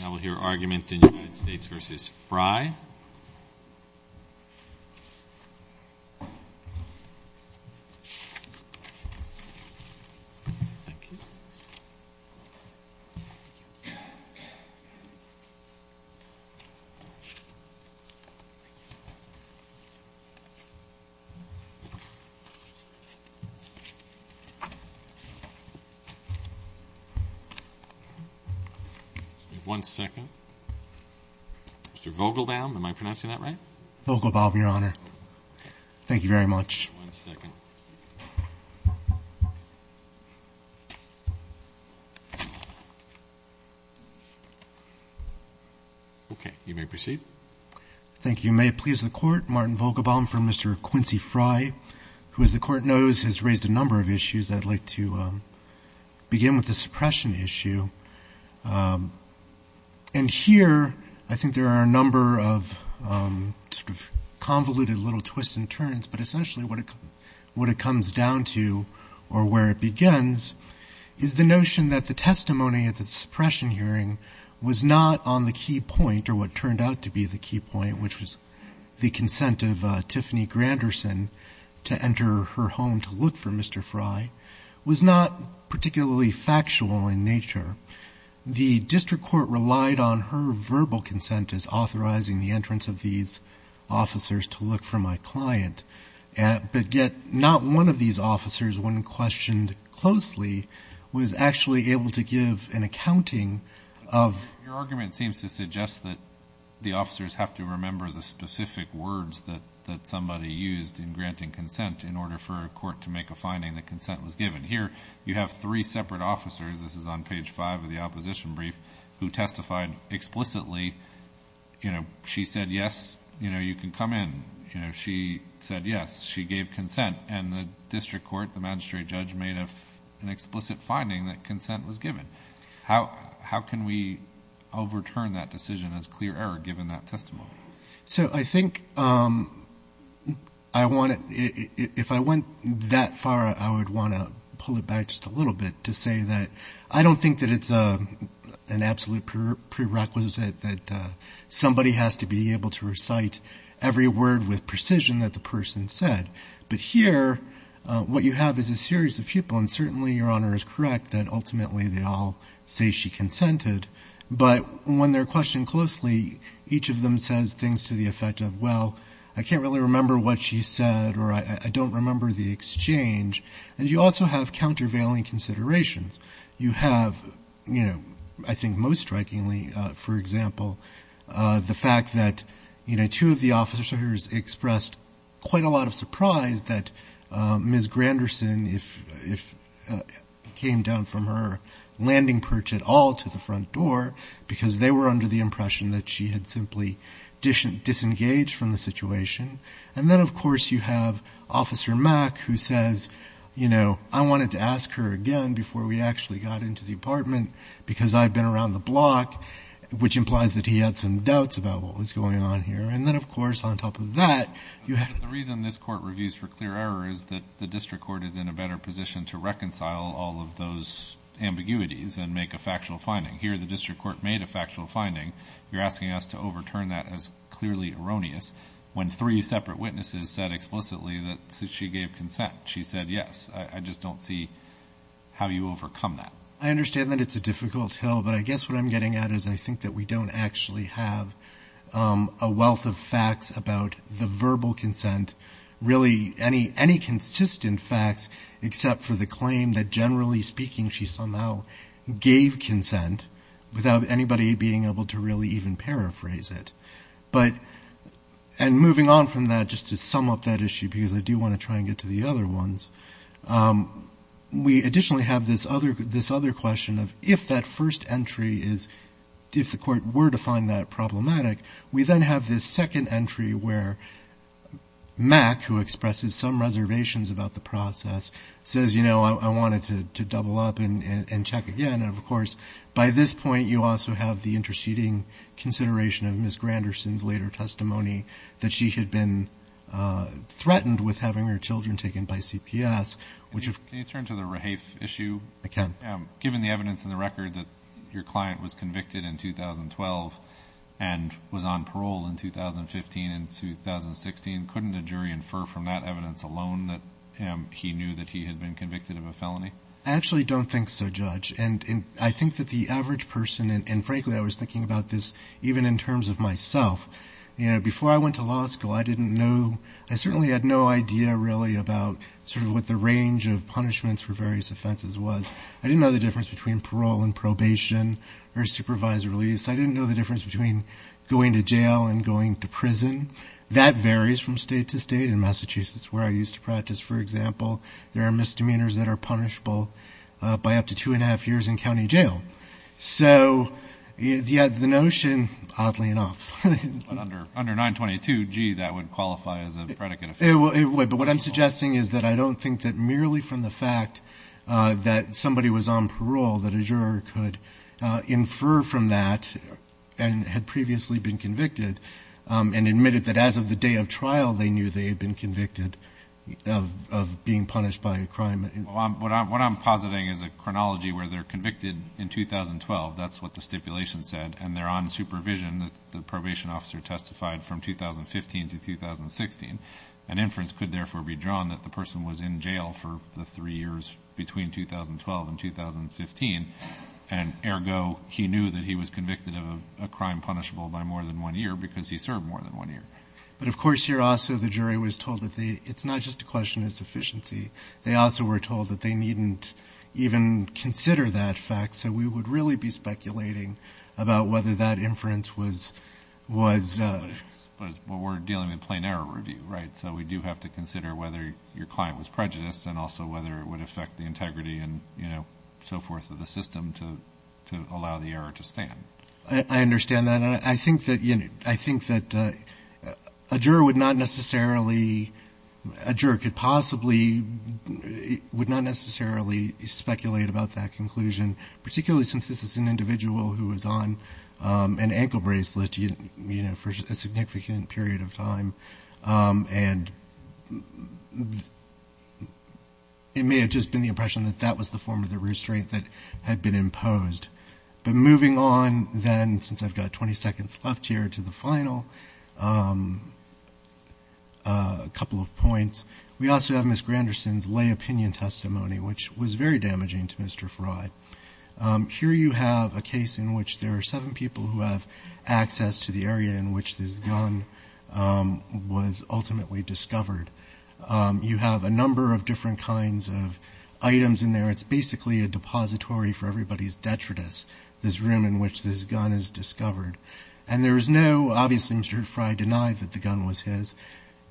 Now we'll hear argument in United States v. Frye. Martin Vogelbaum from Mr. Quincy Frye, who as the Court knows has raised a number of questions on the suppression issue. And here I think there are a number of sort of convoluted little twists and turns, but essentially what it comes down to or where it begins is the notion that the testimony at the suppression hearing was not on the key point or what turned out to be the key point, which was the consent of Tiffany Granderson to enter her home to be factual in nature. The District Court relied on her verbal consent as authorizing the entrance of these officers to look for my client, but yet not one of these officers, when questioned closely, was actually able to give an accounting of Your argument seems to suggest that the officers have to remember the specific words that somebody used in granting consent in order for a court to make a finding that consent was given. How can we overturn that decision as clear error given that testimony? This is on page 5 of the opposition brief who testified explicitly. She said yes, you can come in. She said yes, she gave consent, and the District Court, the magistrate judge, made an explicit finding that consent was given. How can we overturn that decision as clear error given that testimony? So I think I want to, if I went that far, I would want to pull it back just a little bit to say that I don't think that it's an absolute prerequisite that somebody has to be able to recite every word with precision that the person said. But here what you have is a series of people, and certainly Your Honor is correct that ultimately they all say she consented, but when they're questioned closely, each of them says things to the effect of, well, I can't really remember what she said, or I don't remember the exchange. And you also have countervailing considerations. You have, you know, I think most strikingly, for example, the fact that, you know, two of the officers expressed quite a lot of surprise that Ms. Granderson, if it came down from her, landing perch at all to the front door because they were under the impression that she had simply disengaged from the situation. And then, of course, you have Officer Mack who says, you know, I wanted to ask her again before we actually got into the apartment because I've been around the block, which implies that he had some doubts about what was going on here. And then, of course, on top of that, you have... one of the court reviews for clear error is that the district court is in a better position to reconcile all of those ambiguities and make a factual finding. Here the district court made a factual finding. You're asking us to overturn that as clearly erroneous when three separate witnesses said explicitly that she gave consent. She said, yes, I just don't see how you overcome that. I understand that it's a difficult hill, but I guess what I'm getting at is I think that we don't actually have a wealth of facts about the verbal consent, really any consistent facts except for the claim that generally speaking she somehow gave consent without anybody being able to really even paraphrase it. And moving on from that, just to sum up that issue, because I do want to try to get to the other ones, we additionally have this other question of if that first entry is... if the court were to find that problematic, we then have this second entry where Mack, who expresses some reservations about the process, says, you know, I wanted to double up and check again. And, of course, by this point you also have the interceding consideration of Ms. Granderson's later case, which was even taken by CPS. Can you turn to the Rahafe issue? Given the evidence in the record that your client was convicted in 2012 and was on parole in 2015 and 2016, couldn't a jury infer from that evidence alone that he knew that he had been convicted of a felony? I actually don't think so, Judge. And I think that the average person, and frankly I was thinking about this even in terms of myself, before I went to law school, I didn't know... I certainly had no idea really about sort of what the range of punishments for various offenses was. I didn't know the difference between parole and probation or supervisory release. I didn't know the difference between going to jail and going to prison. That varies from state to state. In Massachusetts, where I used to practice, for example, there are misdemeanors that are punishable by up to two and a half years in county jail. So, yeah, the notion... oddly enough. But under 922, gee, that would qualify as a predicate offense. But what I'm suggesting is that I don't think that merely from the fact that somebody was on parole that a juror could infer from that and had previously been convicted and admitted that as of the day of trial they knew they had been convicted of being punished by a crime. What I'm positing is a chronology where they're convicted in 2012, that's what the stipulation said, and they're on supervision, the probationary officer testified from 2015 to 2016. An inference could therefore be drawn that the person was in jail for the three years between 2012 and 2015. And ergo, he knew that he was convicted of a crime punishable by more than one year because he served more than one year. But of course here also the jury was told that it's not just a question of sufficiency. They also were told that they needn't even consider that fact. So we would really be speculating about whether that inference was... But we're dealing with a plain error review, right? So we do have to consider whether your client was prejudiced and also whether it would affect the integrity and so forth of the system to allow the error to stand. I understand that. And I think that a juror would not necessarily... a juror could possibly... would not necessarily speculate about that conclusion, particularly since this is an individual who is on an ankle bracelet for a significant period of time. And it may have just been the impression that that was the form of the restraint that had been imposed. But moving on then, since I've got 20 seconds left here, to the final couple of points. We also have Ms. Granderson's lay opinion testimony, which was very damaging to Mr. Frye. Here you have a case in which there are seven people who have access to the area in which this gun was ultimately discovered. You have a number of different kinds of items in there. It's basically a depository for everybody's detritus, this room in which this gun is discovered. And there is no, obviously, Mr. Frye denied that the gun was his,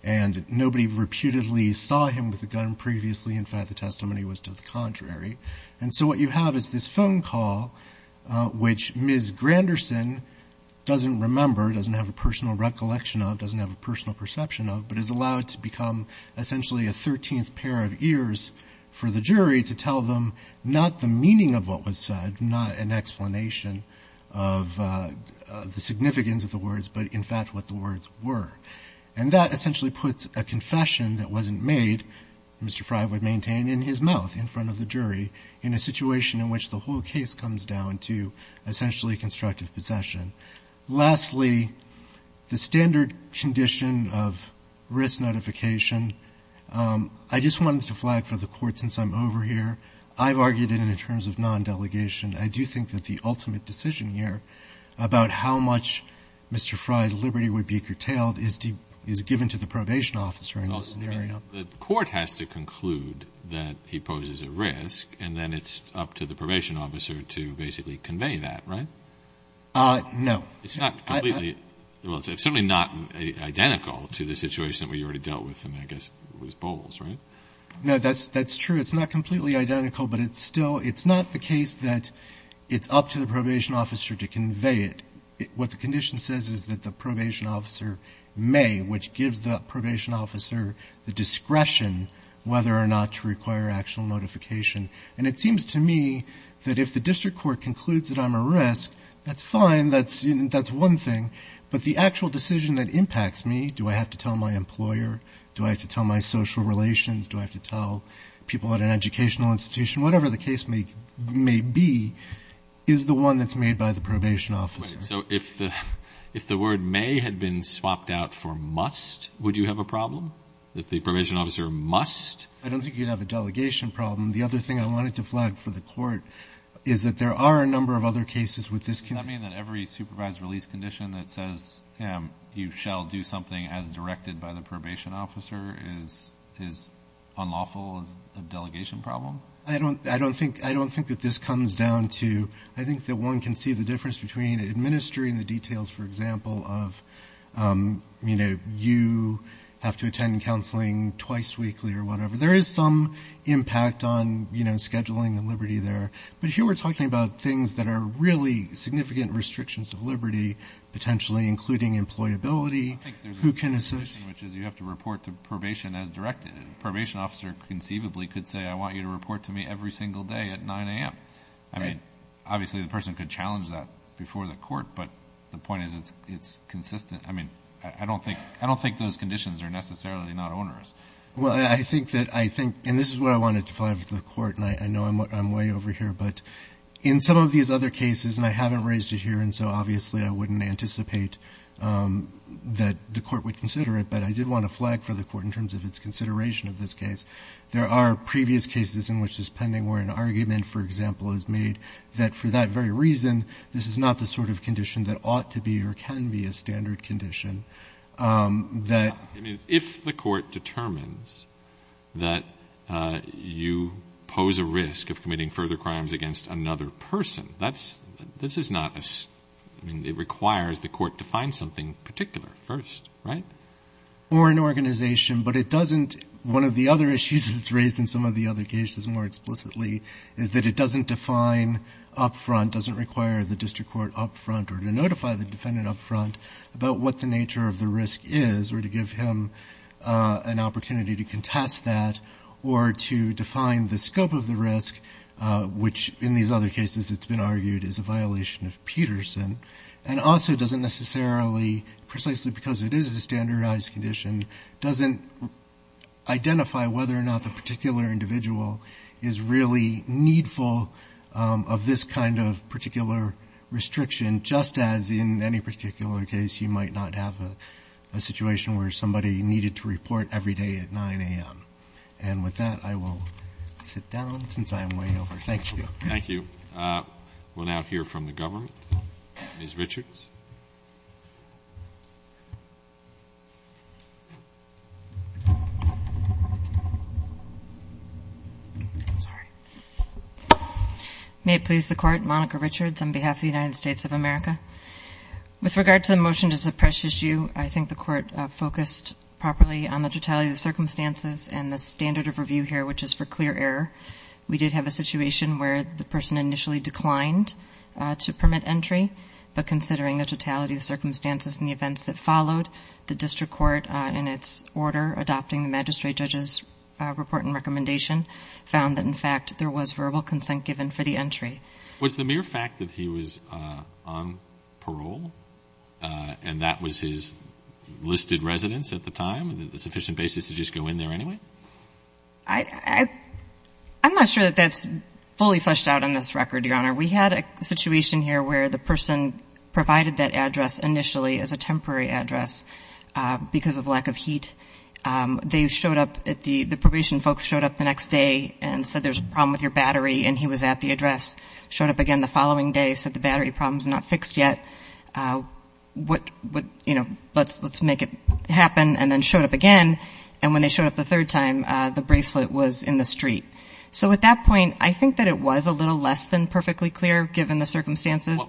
and nobody reputedly saw him with the gun previously. In fact, the testimony was to the contrary. And so what you can see is what you have is this phone call which Ms. Granderson doesn't remember, doesn't have a personal recollection of, doesn't have a personal perception of, but is allowed to become essentially a thirteenth pair of ears for the jury to tell them not the meaning of what was said, not an explanation of the significance of the words, but, in fact, what the words were. And that essentially puts a confession that wasn't made, Mr. Frye would maintain, in his case, a confession in which the whole case comes down to essentially constructive possession. Lastly, the standard condition of risk notification, I just wanted to flag for the Court since I'm over here, I've argued it in terms of non-delegation. I do think that the ultimate decision here about how much Mr. Frye's liberty would be curtailed is given to the probation officer in this scenario. The Court has to conclude that he poses a risk, and then it's up to the probation officer to basically convey that, right? No. It's not completely, well, it's certainly not identical to the situation that we already dealt with in, I guess, with Bowles, right? No, that's true. It's not completely identical, but it's still, it's not the case that it's up to the probation officer to convey it. What the condition says is that the probation officer may, which gives the probation officer the decision to convey it, but that's not the case. It's the discretion whether or not to require actual notification, and it seems to me that if the district court concludes that I'm a risk, that's fine, that's one thing, but the actual decision that impacts me, do I have to tell my employer, do I have to tell my social relations, do I have to tell people at an educational institution, whatever the case may be, is the one that's made by the probation officer. Wait, so if the word may had been swapped out for must, would you have a problem? If the probation officer must? I don't think you'd have a delegation problem. The other thing I wanted to flag for the court is that there are a number of other cases with this Does that mean that every supervised release condition that says you shall do something as directed by the probation officer is unlawful as a delegation problem? I don't think that this comes down to, I think that one can see the difference between administering the details, for example, of, you know, you have to attend counseling twice weekly or whatever. There is some impact on, you know, scheduling and liberty there, but here we're talking about things that are really significant restrictions of liberty, potentially, including employability, who can associate I think there's a distinction, which is you have to report to probation as directed. A probation officer conceivably could say, I want you to report to me every single day at 9 a.m. I mean, obviously the person could challenge that before the court, but the point is it's consistent. I mean, I don't think those conditions are necessarily not onerous. Well, I think that I think, and this is what I wanted to flag for the court, and I know I'm way over here, but in some of these other cases, and I haven't raised it here, and so obviously I wouldn't anticipate that the court would consider it, but I did want to flag for the court in terms of its consideration of this case. There are previous cases in which this pending where an argument, for example, is made that for that very reason, this is not the sort of condition that ought to be or can be a standard condition. If the court determines that you pose a risk of committing further crimes against another person, that's, this is not a, I mean, it requires the court to find something particular first, right? Or an organization, but it doesn't, one of the other issues that's raised in some of the other cases more explicitly is that it doesn't define up front, doesn't require the district court up front or to notify the defendant up front about what the nature of the risk is, or to give him an opportunity to contest that, or to define the scope of the risk, which in these other cases it's been argued is a violation of Peterson, and also doesn't necessarily, precisely because it is a standardized condition, doesn't identify whether or not the particular individual is really needful of this kind of particular restriction, just as in any particular case you might not have a situation where somebody needed to report every day at 9 a.m. And with that, I will sit down, since I am way over. Thank you. Thank you. We'll now hear from the government. Ms. Richards. Sorry. May it please the court. Monica Richards on behalf of the United States of America. With regard to the motion to suppress issue, I think the court focused properly on the totality of the circumstances and the standard of review here, which is for clear error. We did have a situation where the person initially declined to permit entry, but considering the totality of the circumstances and the events that followed, the district court, in its order, adopting the magistrate judge's report and recommendation, we did not have a situation where the person initially declined to permit entry, but considering the totality of the circumstances and the facts that had been laid out by the corporation, found that, in fact, there was verbal consent given for the entry. Was the mere fact that he was on parole, and that was his listed residence at the time, a sufficient basis to just go in there anyway? I am not sure that that is fully fleshed out in this record, Your Honor. We had a situation here where the person provided that address initially as a temporary address because of lack of heat. They showed up, the probation folks showed up the next day and said there is a problem with your battery, and he was at the address, showed up again the following day, said the battery problem is not fixed yet, let's make it happen, and then showed up again, and when they showed up the third time, the bracelet was in the street. So at that point, I think that it was a little less than perfectly clear, given the circumstances,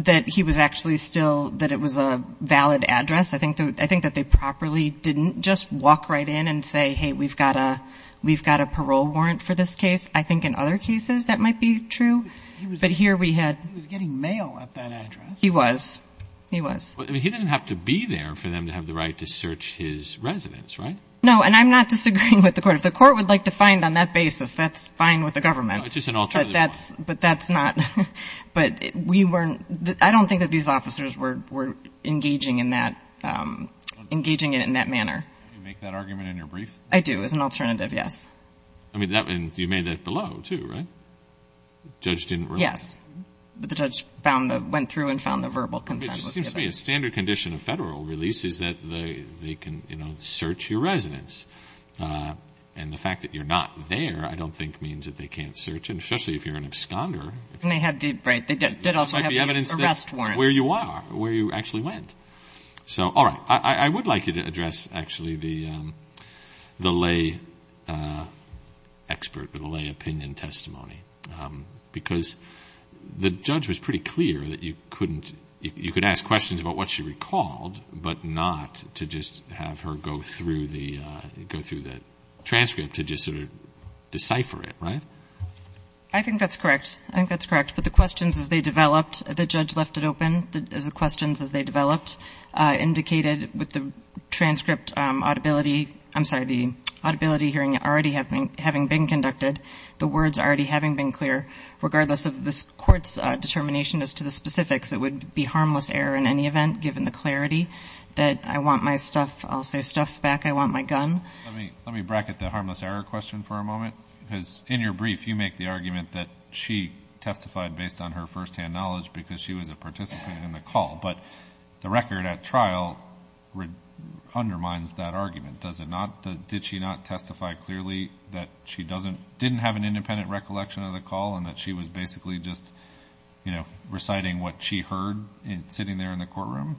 that he was actually still, that it was a valid address. I think that they properly didn't just walk right in and say, hey, we've got a parole warrant for this case. I think in other cases that might be true. But here we had he was getting mail at that address. He was. He was. He didn't have to be there for them to have the right to search his residence, right? No, and I'm not disagreeing with the court. If the court would like to find on that basis, that's fine with the government. No, it's just an alternative. But we weren't, I don't think that these officers were engaging in that, engaging it in that manner. Can you make that argument in your brief? I do, as an alternative, yes. I mean, you made that below, too, right? The judge didn't release it? Yes. But the judge found, went through and found the verbal consent was given. It just seems to me a standard condition of federal release is that they can, you know, search your residence. And the fact that you're not there, I don't think means that they can't search, especially if you're an absconder. And they had the right. They did also have the arrest warrant. Where you are, where you actually went. So, all right. I would like you to address, actually, the lay expert or the lay opinion testimony, because the judge was pretty clear that you couldn't, you could ask questions about what she recalled, but not to just have her go through the, go through the whole thing. I think that's correct. I think that's correct. But the questions as they developed, the judge left it open, as the questions as they developed, indicated with the transcript audibility, I'm sorry, the audibility hearing already having been conducted, the words already having been clear, regardless of the court's determination as to the specifics, it would be harmless error in any event, given the clarity that I want my stuff, I'll say stuff back, I want my gun. Let me bracket the argument that she testified based on her firsthand knowledge, because she was a participant in the call. But the record at trial undermines that argument. Does it not, did she not testify clearly that she doesn't, didn't have an independent recollection of the call, and that she was basically just, you know, reciting what she heard sitting there in the courtroom?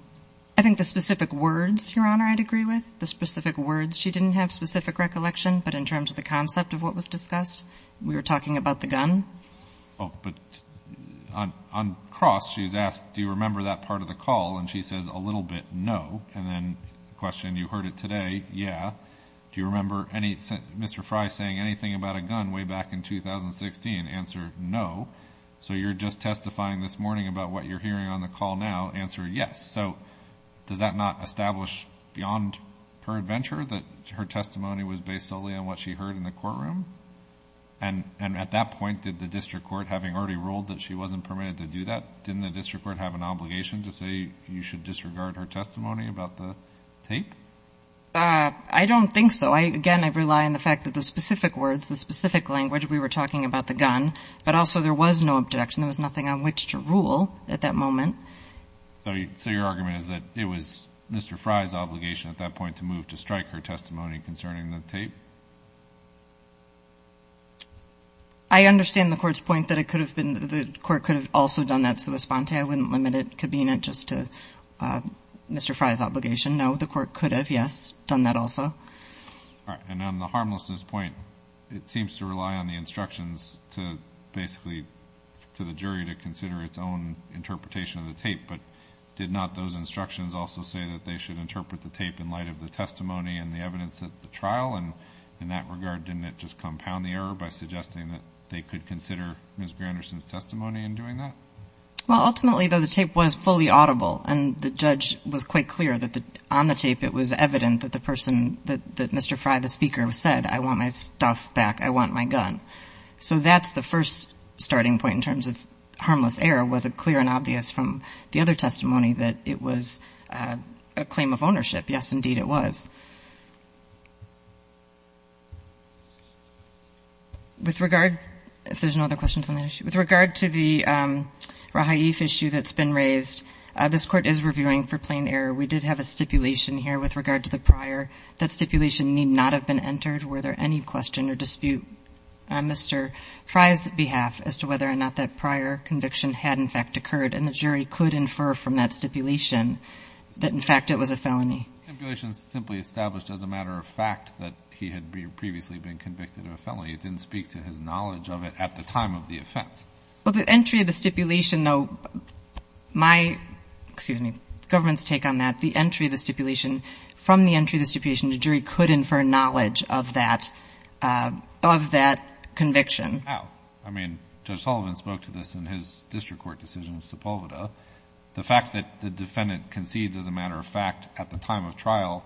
I think the specific words, Your Honor, I'd agree with. The specific words. She didn't have specific recollection, but in terms of the concept of what was discussed, we were talking about the gun. Oh, but on cross, she's asked, do you remember that part of the call? And she says a little bit, no. And then the question, you heard it today, yeah. Do you remember any, Mr. Frye saying anything about a gun way back in 2016? Answer, no. So you're just testifying this morning about what you're hearing on the call now. Answer, yes. So does that not establish beyond her adventure that her testimony was based solely on what she heard in the courtroom? And at that point, did the district court, having already ruled that she wasn't permitted to do that, didn't the district court have an obligation to say you should disregard her testimony about the tape? I don't think so. Again, I rely on the fact that the specific words, the specific language we were talking about the gun, but also there was no objection. There was nothing on which to rule at that moment. So your argument is that it was Mr. Frye's obligation at that point to move to strike her testimony concerning the tape? I understand the court's point that it could have been, the court could have also done that, so the sponte, I wouldn't limit it, could mean it just to Mr. Frye's obligation. No, the court could have, yes, done that also. All right. And on the harmlessness point, it seems to rely on the instructions to basically, to the jury to consider its own interpretation of the tape, but did not those instructions also say that they should interpret the tape in light of the testimony and the evidence at the trial? And in that regard, didn't it just compound the error by suggesting that they could consider Ms. Granderson's testimony in doing that? Well, ultimately, though, the tape was fully audible, and the judge was quite clear that on the tape it was evident that the person, that Mr. Frye, the speaker, said, I want my stuff back, I want my gun. So that's the first starting point in terms of harmless error. Was it clear and obvious from the other testimony that it was a claim of ownership? Yes, indeed, it was. With regard, if there's no other questions on that issue, with regard to the Rahaif issue that's been raised, this court is reviewing for plain error. We did have a stipulation here with regard to the prior. That stipulation need not have been entered. Were there any question or dispute on Mr. Frye's behalf as to whether or not that prior stipulation was a felony? No, the stipulation simply established as a matter of fact that he had previously been convicted of a felony. It didn't speak to his knowledge of it at the time of the offense. Well, the entry of the stipulation, though, my, excuse me, government's take on that, the entry of the stipulation, from the entry of the stipulation, the jury could infer knowledge of that conviction. How? I mean, Judge Sullivan spoke to this issue. I mean, the jury could infer knowledge of that conviction. The fact that the defendant concedes, as a matter of fact, at the time of trial,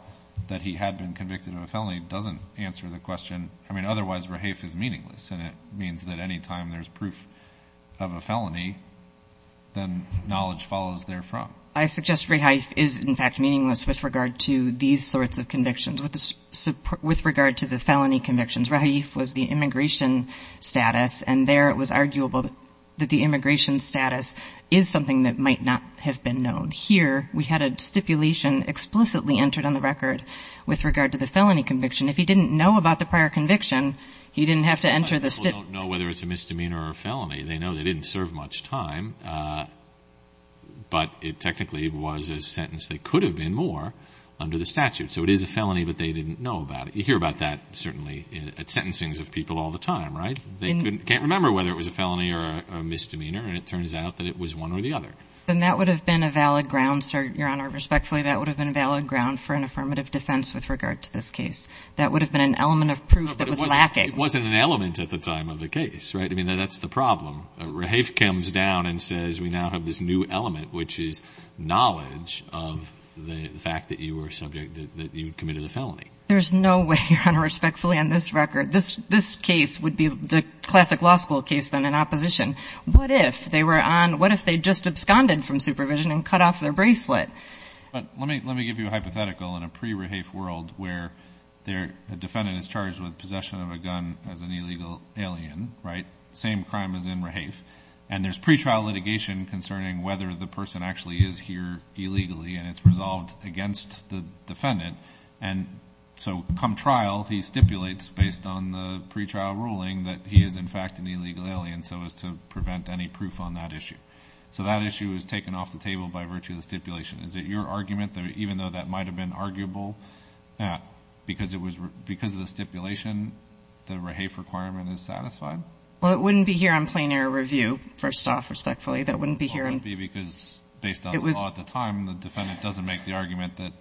that he had been convicted of a felony doesn't answer the question. I mean, otherwise Rahaif is meaningless, and it means that anytime there's proof of a felony, then knowledge follows therefrom. I suggest Rahaif is in fact meaningless with regard to these sorts of convictions. With regard to the felony convictions, Rahaif was the immigration status, and there it was arguable that the immigration status is something that might not have been known. Here, we had a stipulation explicitly entered on the record with regard to the felony conviction. If he didn't know about the prior conviction, he didn't have to enter the stipulation. A lot of people don't know whether it's a misdemeanor or a felony. They know they didn't serve much time, but it technically was a sentence that could have been more under the statute. So it is a felony, but they didn't know about it. You hear about that certainly at sentencings of people all the time, right? They can't remember whether it was a misdemeanor, and it turns out that it was one or the other. And that would have been a valid ground, sir, Your Honor, respectfully, that would have been a valid ground for an affirmative defense with regard to this case. That would have been an element of proof that was lacking. No, but it wasn't an element at the time of the case, right? I mean, that's the problem. Rahaif comes down and says, we now have this new element, which is knowledge of the fact that you were subject, that you committed a felony. There's no way, Your Honor, respectfully, on this record, this case would be the classic law school case, then, in which case, what if they were on, what if they just absconded from supervision and cut off their bracelet? But let me give you a hypothetical in a pre-Rahaif world where a defendant is charged with possession of a gun as an illegal alien, right? Same crime as in Rahaif. And there's pretrial litigation concerning whether the person actually is here illegally, and it's resolved against the defendant. And so come trial, he stipulates based on the pretrial ruling that he is, in fact, an illegal alien, so as to prevent any proof on that issue. So that issue is taken off the table by virtue of the stipulation. Is it your argument that even though that might have been arguable, because of the stipulation, the Rahaif requirement is satisfied? Well, it wouldn't be here on plain air review, first off, respectfully. That wouldn't be here. Well, it wouldn't be because based on the law at the time, the defendant doesn't make the argument that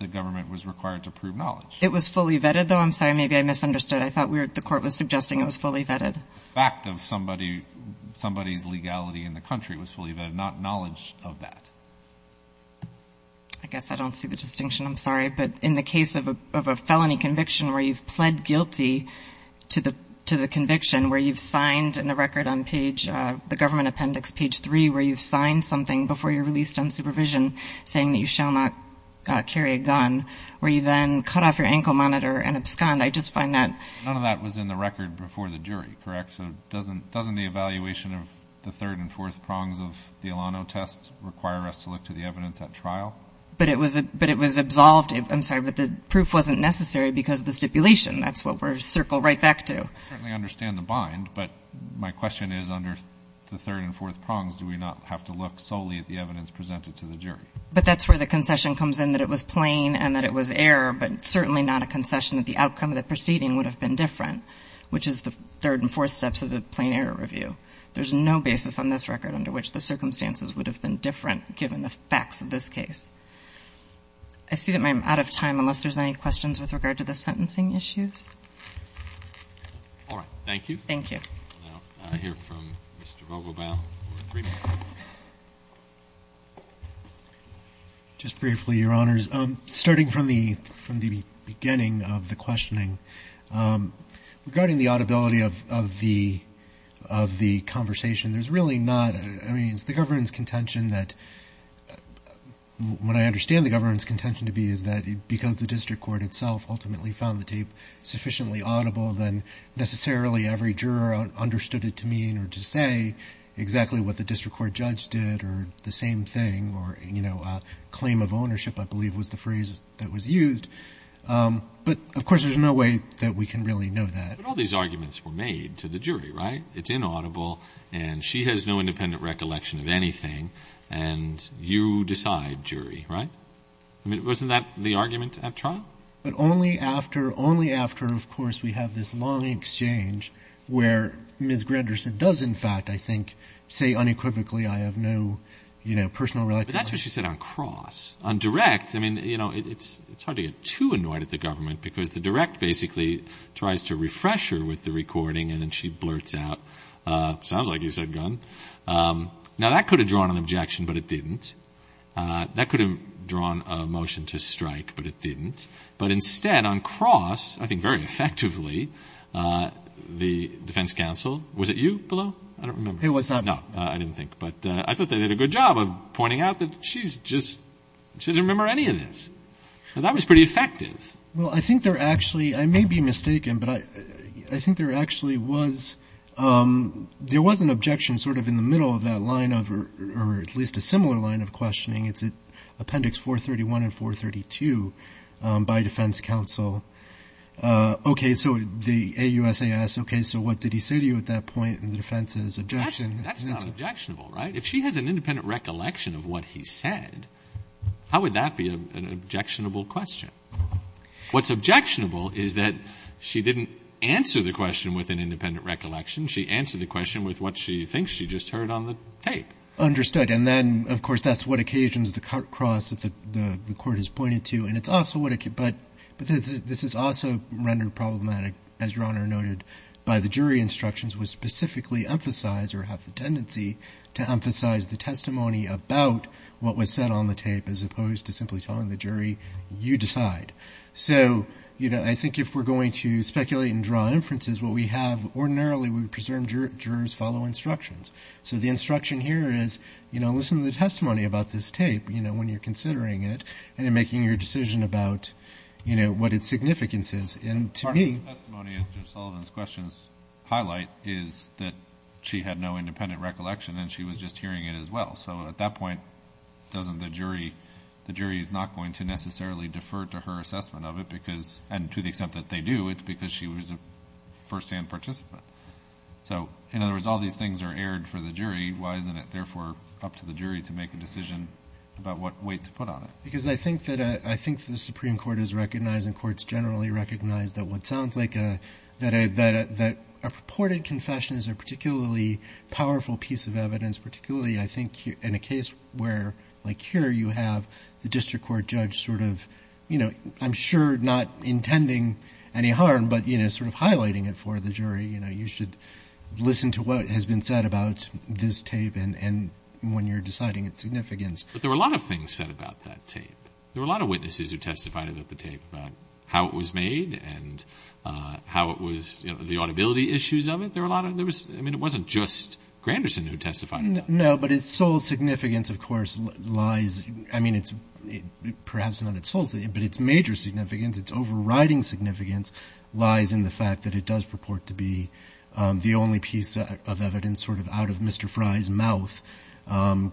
the government was required to prove knowledge. It was fully vetted, though. I'm sorry, maybe I misunderstood. I thought the court was suggesting it was fully vetted. The fact of somebody's legality in the country was fully vetted, not knowledge of that. I guess I don't see the distinction. I'm sorry. But in the case of a felony conviction where you've pled guilty to the conviction, where you've signed in the record on page, the government appendix, page three, where you've signed something before you're released on supervision saying that you shall not carry a gun, where you then cut off your ankle monitor and abscond, I just find that... None of that was in the record before the jury, correct? So doesn't the evaluation of the third and fourth prongs of the Ilano tests require us to look to the evidence at trial? But it was absolved. I'm sorry, but the proof wasn't necessary because of the stipulation. That's what we're circled right back to. I certainly understand the bind, but my question is under the third and fourth prongs, do we not have to look solely at the evidence presented to the jury? But that's where the concession comes in, that it was plain and that it was error, but certainly not a concession that the outcome of the proceeding would have been different, which is the third and fourth steps of the plain error review. There's no basis on this record under which the circumstances would have been different given the facts of this case. I see that I'm out of time unless there's any questions with regard to the sentencing issues. All right. Thank you. Thank you. Now I hear from Mr. Vogelbaum. Just briefly, Your Honors. Starting from the beginning of the questioning, regarding the audibility of the conversation, there's really not, I mean, it's the government's contention that, what I understand the government's contention to be is that because the district court itself ultimately found the tape sufficiently audible, then necessarily every juror understood it and was able to say exactly what the district court judge did or the same thing or, you know, a claim of ownership, I believe, was the phrase that was used. But, of course, there's no way that we can really know that. But all these arguments were made to the jury, right? It's inaudible and she has no independent recollection of anything and you decide jury, right? I mean, wasn't that the argument at trial? But only after, of course, we have this long exchange where Ms. Anderson does, in fact, I think, say unequivocally, I have no, you know, personal recollection. But that's what she said on cross. On direct, I mean, you know, it's hard to get too annoyed at the government because the direct basically tries to refresh her with the recording and then she blurts out, sounds like you said gun. Now that could have drawn an objection, but it didn't. That could have drawn a motion to strike, but it didn't. But instead, on cross, I think, the defense counsel, was it you, Billo? I don't remember. It was not me. No, I didn't think. But I thought they did a good job of pointing out that she's just, she doesn't remember any of this. And that was pretty effective. Well, I think there actually, I may be mistaken, but I think there actually was, there was an objection sort of in the middle of that line of, or at least a similar line of questioning. It's Appendix 431 and 432 by defense counsel. Okay, so the AUSAS, okay, so what did he say to you at that point in the defense's objection? That's not objectionable, right? If she has an independent recollection of what he said, how would that be an objectionable question? What's objectionable is that she didn't answer the question with an independent recollection. She answered the question with what she thinks she just heard on the tape. Understood. And then, of course, that's what occasions the cross that the court has pointed to. And it's also what, but this is also rendered problematic, as Your Honor noted, by the jury instructions which specifically emphasize or have the tendency to emphasize the testimony about what was said on the tape as opposed to simply telling the jury, you decide. So, you know, I think if we're going to speculate and draw inferences, what we have ordinarily, we would presume jurors follow instructions. So the instruction here is, you know, listen to the testimony about this tape, you know, when you're making your decision about, you know, what its significance is. And to me... Part of the testimony, as Judge Sullivan's questions highlight, is that she had no independent recollection and she was just hearing it as well. So at that point, doesn't the jury, the jury is not going to necessarily defer to her assessment of it because, and to the extent that they do, it's because she was a firsthand participant. So, in other words, all these things are aired for the jury. Why isn't it, therefore, up to the jury to make a decision about what weight to put on it? Because I think that, I think the Supreme Court has recognized and courts generally recognize that what sounds like a purported confession is a particularly powerful piece of evidence, particularly, I think, in a case where, like here, you have the district court judge sort of, you know, I'm sure not intending any harm, but, you know, sort of highlighting it for the jury. You know, you should listen to what has been said about this tape and when you're deciding its significance. There were a lot of witnesses who testified about the tape, about how it was made and how it was, you know, the audibility issues of it. There were a lot of, there was, I mean, it wasn't just Granderson who testified about it. No, but its sole significance, of course, lies, I mean, it's perhaps not its sole, but its major significance, its overriding significance lies in the fact that it does purport to be the only piece of evidence sort of out of Mr. Fry's mouth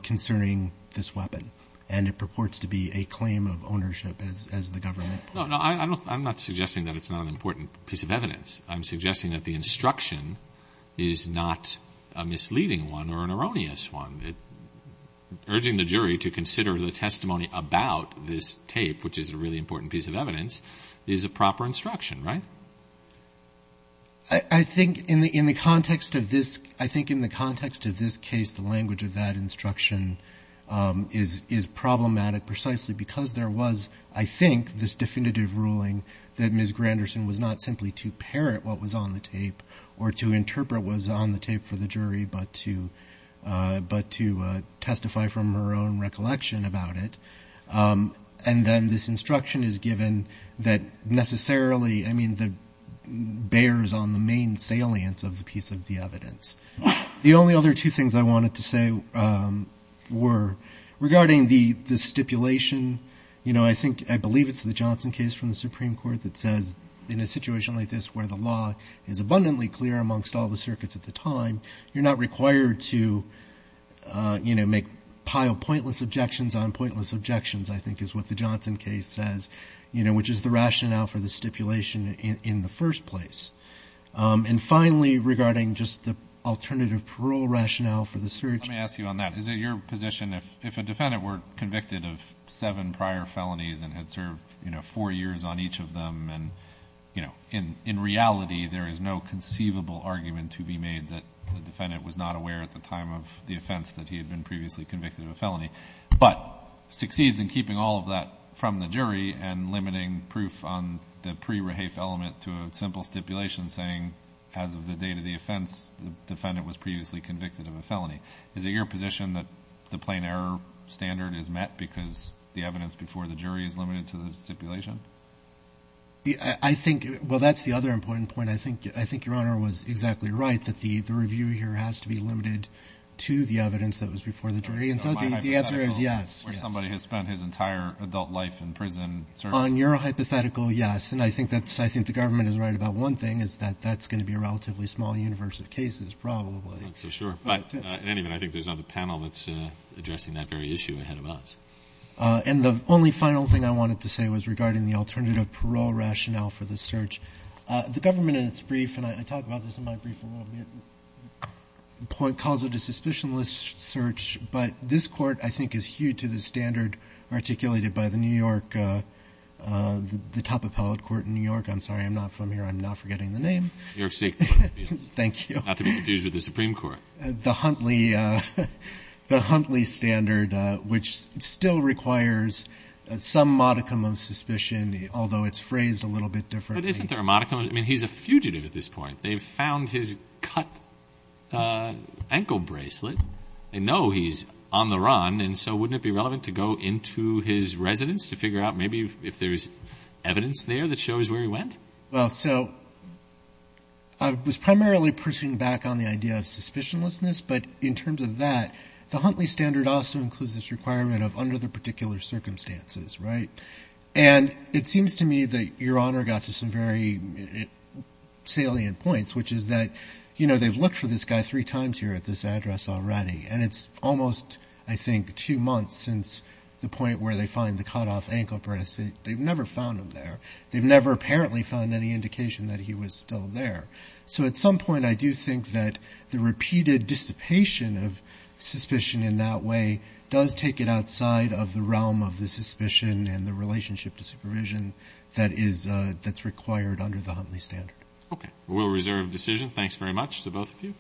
concerning this weapon and it purports to be a claim of ownership as the government. No, no, I'm not suggesting that it's not an important piece of evidence. I'm suggesting that the instruction is not a misleading one or an erroneous one. Urging the jury to consider the testimony about this tape, which is a really important piece of evidence, is a proper instruction, right? I think in the context of this, I think in the context of this case, the language of that instruction, I don't think it's problematic precisely because there was, I think, this definitive ruling that Ms. Granderson was not simply to parrot what was on the tape or to interpret what was on the tape for the jury, but to testify from her own recollection about it. And then this instruction is given that necessarily, I mean, bears on the main salience of the piece of the evidence. The only other two things I wanted to say were regarding the stipulation, you know, I think, I believe it's the Johnson case from the Supreme Court that says in a situation like this where the law is abundantly clear amongst all the circuits at the time, you're not required to, you know, make, pile pointless objections on pointless objections, I think is what the Johnson case says, you know, which is the rationale for the stipulation in the first place. And finally, regarding just the alternative parole rationale for the search. Let me ask you on that. Is it your position if a defendant were convicted of seven prior felonies and had served, you know, four years on each of them and, you know, in reality there is no conceivable argument to be made that the defendant was not aware at the time of the offense that he had been previously convicted of a felony, but succeeds in keeping all of that from the jury and limiting proof on the pre-rehafe element to a simple stipulation saying, as of the date of the offense, the defendant was previously convicted of a felony. Is it your position that the plain error standard is met because the evidence before the jury is limited to the stipulation? Well, that's the other important point. I think your Honor was exactly right, that the review here has to be limited to the evidence that was before the jury. And so the answer is yes. Where somebody has spent his entire adult life in prison. On your hypothetical, yes. And I think that's, I think the government is right about one thing is that that's going to be a relatively small universe of cases, probably. Not so sure. But, in any event, I think there's another panel that's addressing that very issue ahead of us. And the only final thing I wanted to say was regarding the alternative parole rationale for the search. The government in its brief, and I talk about this in my brief a little bit, calls it a suspicionless search. But this Court, I think, is huge to the standard articulated by the New York, the top appellate court in New York. I'm sorry, I'm not from here. I'm not forgetting the name. You're sick. Thank you. Not to be confused with the Supreme Court. The Huntley standard, which still requires some modicum of suspicion, although it's phrased a little bit differently. But isn't there a modicum? I mean, he's a fugitive at this point. They've found his cut ankle bracelet. They know he's on the run. And so wouldn't it be relevant to go into his residence to figure out maybe if there's evidence there that shows where he went? Well, so I was primarily pushing back on the idea of suspicionlessness. But in terms of that, the Huntley standard also includes this requirement of under the particular circumstances, right? And it seems to me that Your Honor got to some very salient points, which is that, you know, they've looked for this guy three times here at this address already. And it's almost, I think, two months since the point where they find the cut off ankle bracelet. They've never found him there. They've never apparently found any indication that he was still there. So at some point, I do think that the repeated dissipation of suspicion in that way does take it outside of the realm of the suspicion and the relationship to supervision that's required under the Huntley standard. Okay. We'll reserve the decision. Thanks very much to both of you.